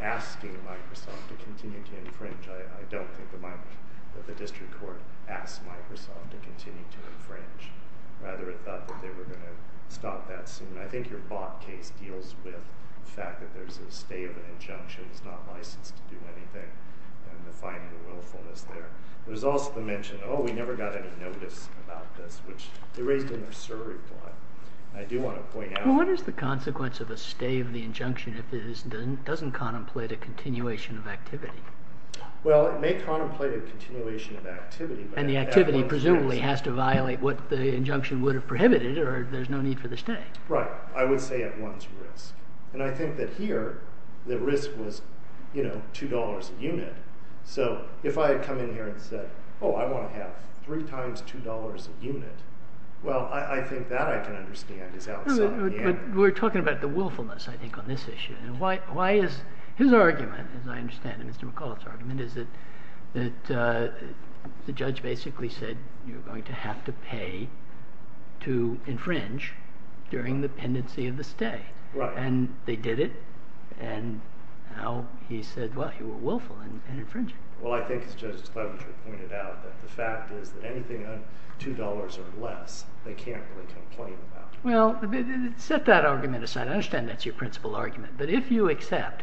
asking Microsoft to continue to infringe, I don't think the district court asked Microsoft to continue to infringe. Rather, it thought that they were going to stop that soon. I think your bot case deals with the fact that there's a stay of an injunction. It's not licensed to do anything, and the finding of willfulness there. There's also the mention, oh, we never got any notice about this, which erased the nursery plot. I do want to point out- What is the consequence of a stay of the injunction if it doesn't contemplate a continuation of activity? Well, it may contemplate a continuation of activity- The activity presumably has to violate what the injunction would have prohibited, or there's no need for the stay. Right. I would say at one's risk. I think that here, the risk was $2 a unit. If I had come in here and said, oh, I want to have three times $2 a unit, well, I think that I can understand is outside the- We're talking about the willfulness, I think, on this issue. His argument, as I understand it, Mr. McAuliffe's argument, is that the judge basically said you're going to have to pay to infringe during the pendency of the stay. Right. And they did it, and now he said, well, you were willful in infringing. Well, I think as Judge Cleverly pointed out, that the fact is that anything under $2 or less, they can't really complain about. Well, set that argument aside. I understand that's your principal argument, but if you accept,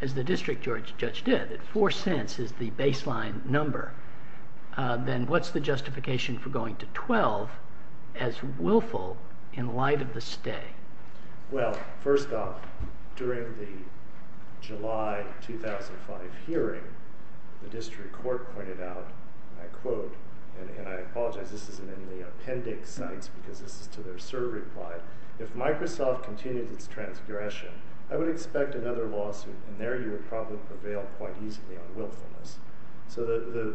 as the district judge did, $0.04 is the baseline number, then what's the justification for going to $0.12 as willful in light of the stay? Well, first off, during the July 2005 hearing, the district court pointed out, and I quote, and I apologize, this isn't in the appendix sites because this is to their survey reply, if Microsoft continues its transgression, I would expect another lawsuit, and there you would probably prevail quite easily on willfulness. So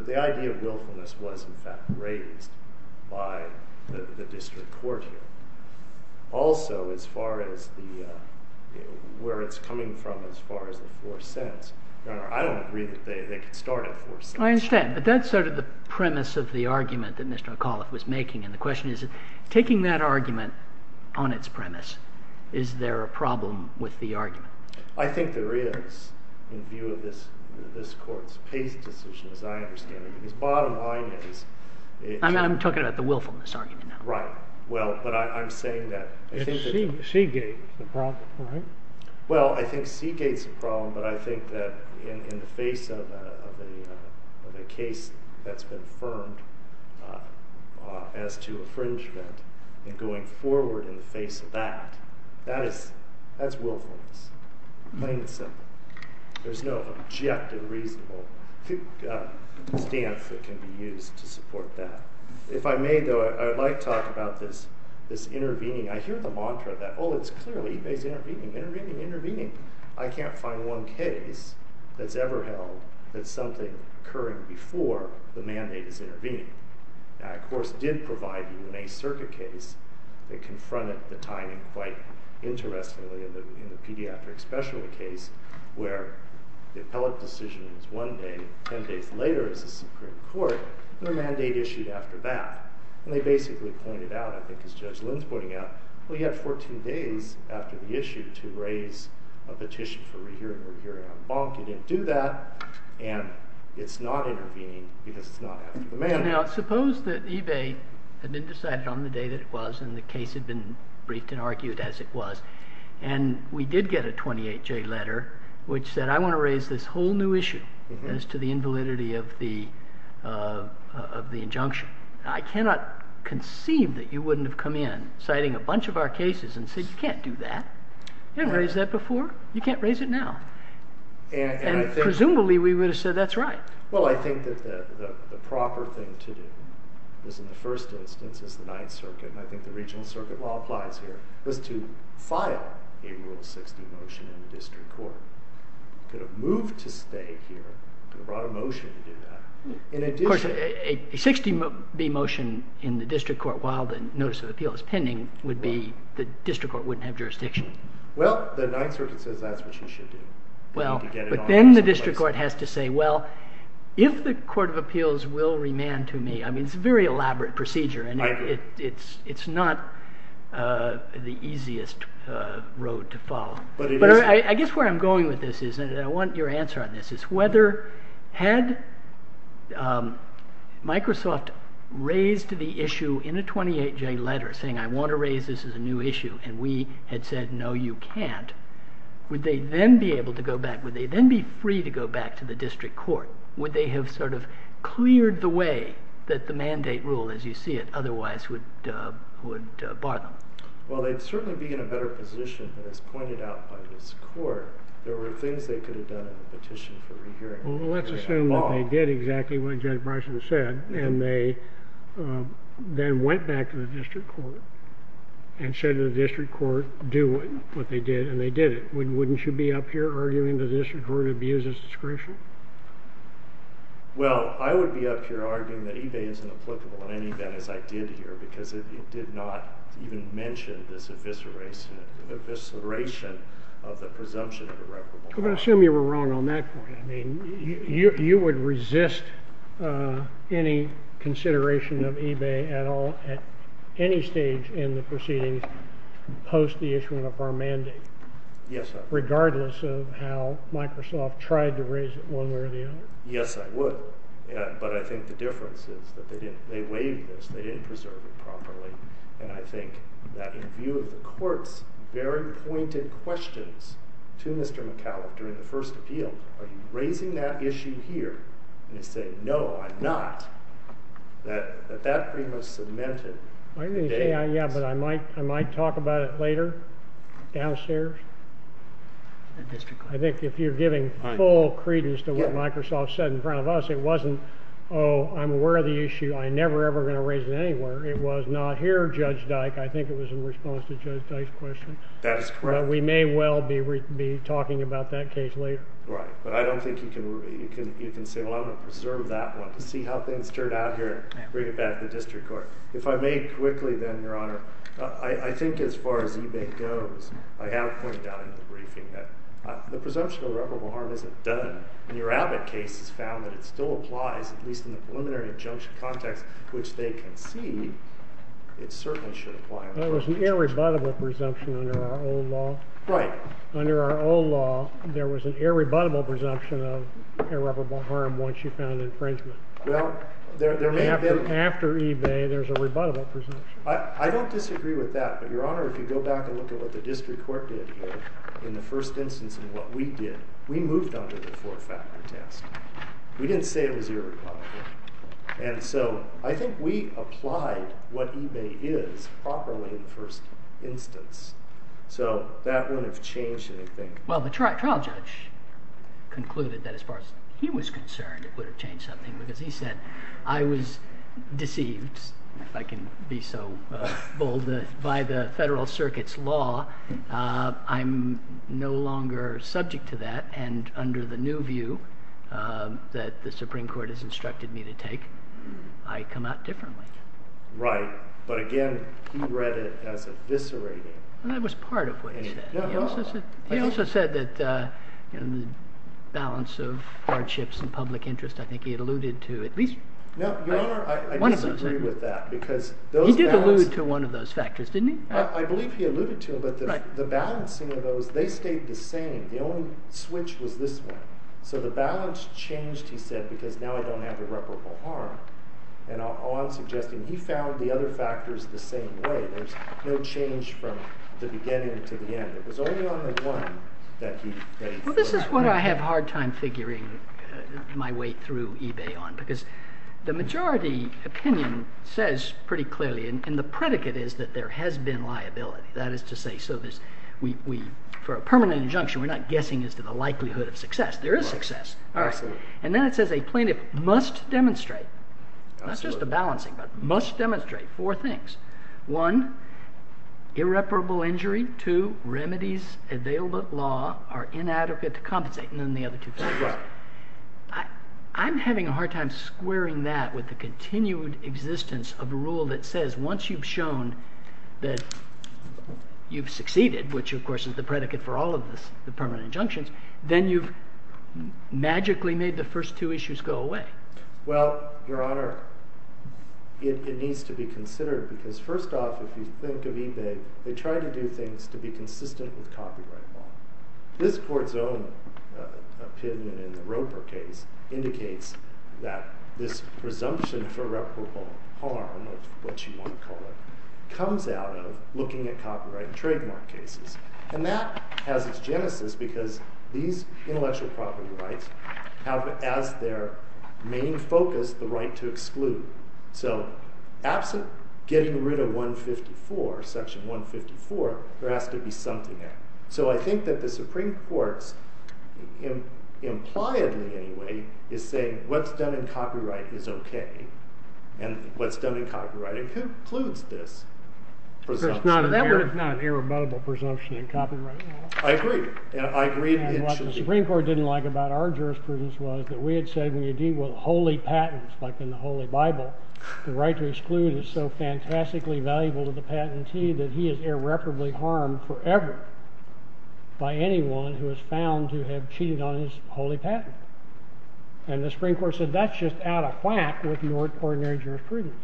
the idea of willfulness was, in fact, raised by the district court here. Also, as far as where it's coming from, as far as the $0.04, I don't agree that they could start at $0.04. I understand, but that's sort of the premise of the argument that Mr. McAuliffe was making, is there a problem with the argument? I think there is, in view of this court's PACE decision, as I understand it, because bottom line is... I'm talking about the willfulness argument now. Right. Well, but I'm saying that... Seagate's the problem, right? Well, I think Seagate's the problem, but I think that in the face of a case that's been affirmed as to infringement and going forward in the face of that, that is willfulness, plain and simple. There's no objective, reasonable stance that can be used to support that. If I may, though, I'd like to talk about this intervening. I hear the mantra that, oh, it's clearly PACE intervening, intervening, intervening. I can't find one case that's ever held that something occurring before the mandate is intervening. I, of course, did provide you in a circuit case that confronted the timing quite interestingly in the pediatric specialty case where the appellate decision was one day, 10 days later as a Supreme Court, and a mandate issued after that. And they basically pointed out, I think as Judge Lynn's pointing out, well, you had 14 days after the issue to raise a petition for rehearing, rehearing on bonk. You didn't do that, and it's not intervening because it's not after the mandate. Now, suppose that eBay had been decided on the day that it was, and the case had been briefed and argued as it was, and we did get a 28-J letter which said, I want to raise this whole new issue as to the invalidity of the injunction. I cannot conceive that you wouldn't have come in citing a bunch of our cases and said, you can't do that. You didn't raise that before. You can't raise it now. And presumably, we would have said, that's right. Well, I think that the proper thing to do is in the first instance, is the Ninth Circuit, and I think the regional circuit law applies here, was to file a Rule 60 motion in the district court. You could have moved to stay here, could have brought a motion to do that. In addition- Of course, a 60-B motion in the district court while the notice of appeal is pending would be the district court wouldn't have jurisdiction. Well, the Ninth Circuit says that's what you should do. Well, but then the district court has to say, well, if the Court of Appeals will remand to me, I mean, it's a very elaborate procedure and it's not the easiest road to follow. But I guess where I'm going with this is, and I want your answer on this, is whether had Microsoft raised the issue in a 28-J letter saying, I want to raise this as a new issue, and we had said, no, you can't, would they then be able to go back? Would they then be free to go back to the district court? Would they have sort of cleared the way that the mandate rule, as you see it, otherwise would bar them? Well, they'd certainly be in a better position, but as pointed out by this court, there were things they could have done in the petition for rehearing. Well, let's assume that they did exactly what Judge Bryson said, and they then went back to the district court and said to the district court, do what they did, and they did it. Wouldn't you be up here arguing the district court abuses discretion? Well, I would be up here arguing that eBay isn't applicable in any event, as I did here, because it did not even mention this evisceration of the presumption of irreparable harm. I'm going to assume you were wrong on that point. I mean, you would resist any consideration of eBay at all, at any stage in the proceedings post the issuance of our mandate? Yes, sir. Regardless of how Microsoft tried to raise it, one way or the other? Yes, I would. But I think the difference is that they waived this. They didn't preserve it properly, and I think that in view of the court's very pointed questions to Mr. McCallum during the first appeal, are you raising that issue here? And they say, no, I'm not. That that claim was cemented. I'm going to say, yeah, but I might talk about it later, downstairs. I think if you're giving full credence to what Microsoft said in front of us, it wasn't, oh, I'm aware of the issue. I'm never, ever going to raise it anywhere. It was not here, Judge Dyke. I think it was in response to Judge Dyke's question. That is correct. But we may well be talking about that case later. Right. But I don't think you can say, well, I'm going to preserve that one to see how things turn out here and bring it back to the district court. If I may quickly, then, Your Honor, I think as far as eBay goes, I have pointed out in the briefing that the presumption of irreparable harm isn't done. In your Abbott case, it's found that it still applies, at least in the preliminary injunction context, which they concede it certainly should apply. There was an irrebuttable presumption under our old law. Right. Under our old law, there was an irrebuttable presumption of irreparable harm once you found infringement. Well, there may have been. After eBay, there's a rebuttable presumption. I don't disagree with that. But, Your Honor, if you go back and look at what the district court did in the first instance and what we did, we moved on to the four-factor test. We didn't say it was irreparable. And so I think we applied what eBay is properly in the first instance. So that wouldn't have changed anything. Well, the trial judge concluded that as far as he was concerned it would have changed something. Because he said, I was deceived, if I can be so bold, by the federal circuit's law. I'm no longer subject to that. And under the new view that the Supreme Court has instructed me to take, I come out differently. Right. But again, he read it as eviscerating. Well, that was part of what he said. He also said that the balance of hardships and public interest, I think he alluded to at least one of those things. No, Your Honor, I disagree with that. He did allude to one of those factors, didn't he? I believe he alluded to them. But the balancing of those, they stayed the same. The only switch was this one. So the balance changed, he said, because now I don't have irreparable harm. And all I'm suggesting, he found the other factors the same way. There's no change from the beginning to the end. It was only on the one that he furthered. Well, this is what I have a hard time figuring my way through eBay on. Because the majority opinion says pretty clearly, and the predicate is that there has been liability. That is to say, for a permanent injunction, we're not guessing as to the likelihood of success. There is success. And then it says a plaintiff must demonstrate, not just a balancing, but must demonstrate four things. One, irreparable injury. inadequate to compensate. And then the other two things. Right. I'm having a hard time squaring that with the continued existence of a rule that says once you've shown that you've succeeded, which, of course, is the predicate for all of the permanent injunctions, then you've magically made the first two issues go away. Well, Your Honor, it needs to be considered. Because first off, if you think of eBay, they try to do things to be consistent with copyright law. This court's own opinion in the Roper case indicates that this presumption for irreparable harm, or what you want to call it, comes out of looking at copyright and trademark cases. And that has its genesis because these intellectual property rights have, as their main focus, the right to exclude. So absent getting rid of section 154, there has to be something there. So I think that the Supreme Court's, impliedly anyway, is saying what's done in copyright is OK. And what's done in copyright includes this presumption. That one is not an irrebuttable presumption in copyright law. I agree. I agree that it should be. And what the Supreme Court didn't like about our jurisprudence was that we had said, when you deal with holy patents, like in the Holy Bible, the right to exclude is so fantastically valuable to the patentee that he is irreparably harmed forever by anyone who is found to have cheated on his holy patent. And the Supreme Court said, that's just out of whack with your ordinary jurisprudence.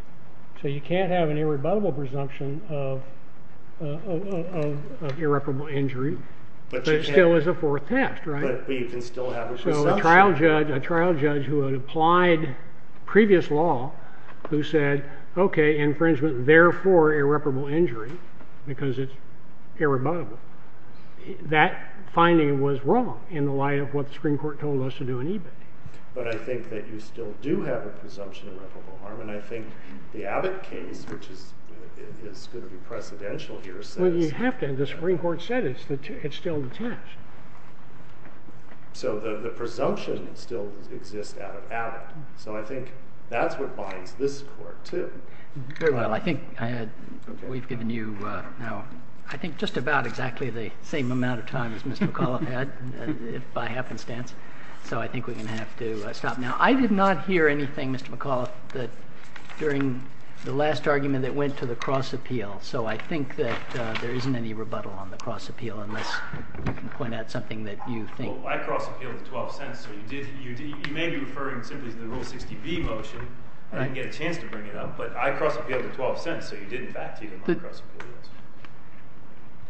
So you can't have an irrebuttable presumption of irreparable injury. But it still is a fourth test, right? But you can still have this presumption. So a trial judge who had applied previous law, who said, OK, infringement, therefore irreparable injury, because it's irrebuttable, that finding was wrong in the light of what the Supreme Court told us to do in eBay. But I think that you still do have a presumption of irreparable harm. And I think the Abbott case, which is going to be precedential here, says that. Well, you have to. The Supreme Court said it's still the test. So the presumption still exists out of Abbott. So I think that's what binds this court, too. Well, I think we've given you now, I think, just about exactly the same amount of time as Mr. McAuliffe had, by happenstance. So I think we're going to have to stop now. I did not hear anything, Mr. McAuliffe, that during the last argument that went to the cross appeal. So I think that there isn't any rebuttal on the cross appeal, unless you can point out something that you think. Well, I cross appealed the $0.12. So you may be referring simply to the Rule 60B motion. I didn't get a chance to bring it up. But I cross appealed the $0.12. So you did, in fact, even on the cross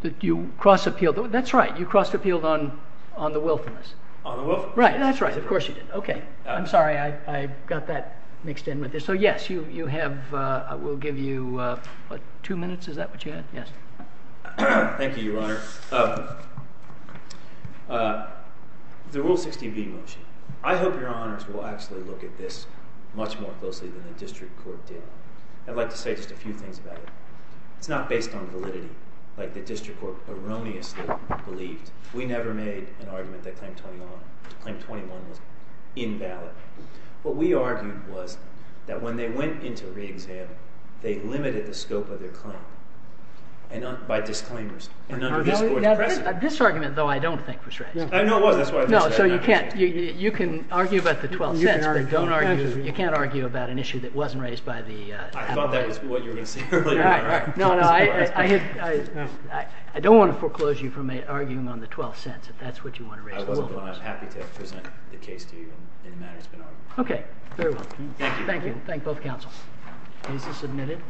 appeal. You cross appealed. That's right. You cross appealed on the wilfulness. On the wilfulness. Right. That's right. Of course you did. OK. I'm sorry. I got that mixed in with this. So yes, you have, I will give you, what, two minutes? Is that what you had? Yes. Thank you, Your Honor. The Rule 60B motion. I hope Your Honors will actually look at this much more closely than the district court did. I'd like to say just a few things about it. It's not based on validity, like the district court erroneously believed. We never made an argument that Claim 21 was invalid. What we argued was that when they went into re-exam, they limited the scope of their claim by disclaimers. And under this court's precedent. This argument, though, I don't think was right. No, it wasn't. That's why I didn't say it. You can argue about the $0.12, but you can't argue about an issue that wasn't raised by the appellate. I thought that was what you were going to say earlier. No, no. I don't want to foreclose you from arguing on the $0.12 if that's what you want to raise. I wasn't, but I'm happy to present the case to you in the manner it's been argued. OK. Very well. Thank you. Thank you. Thank both counsels. Case is submitted.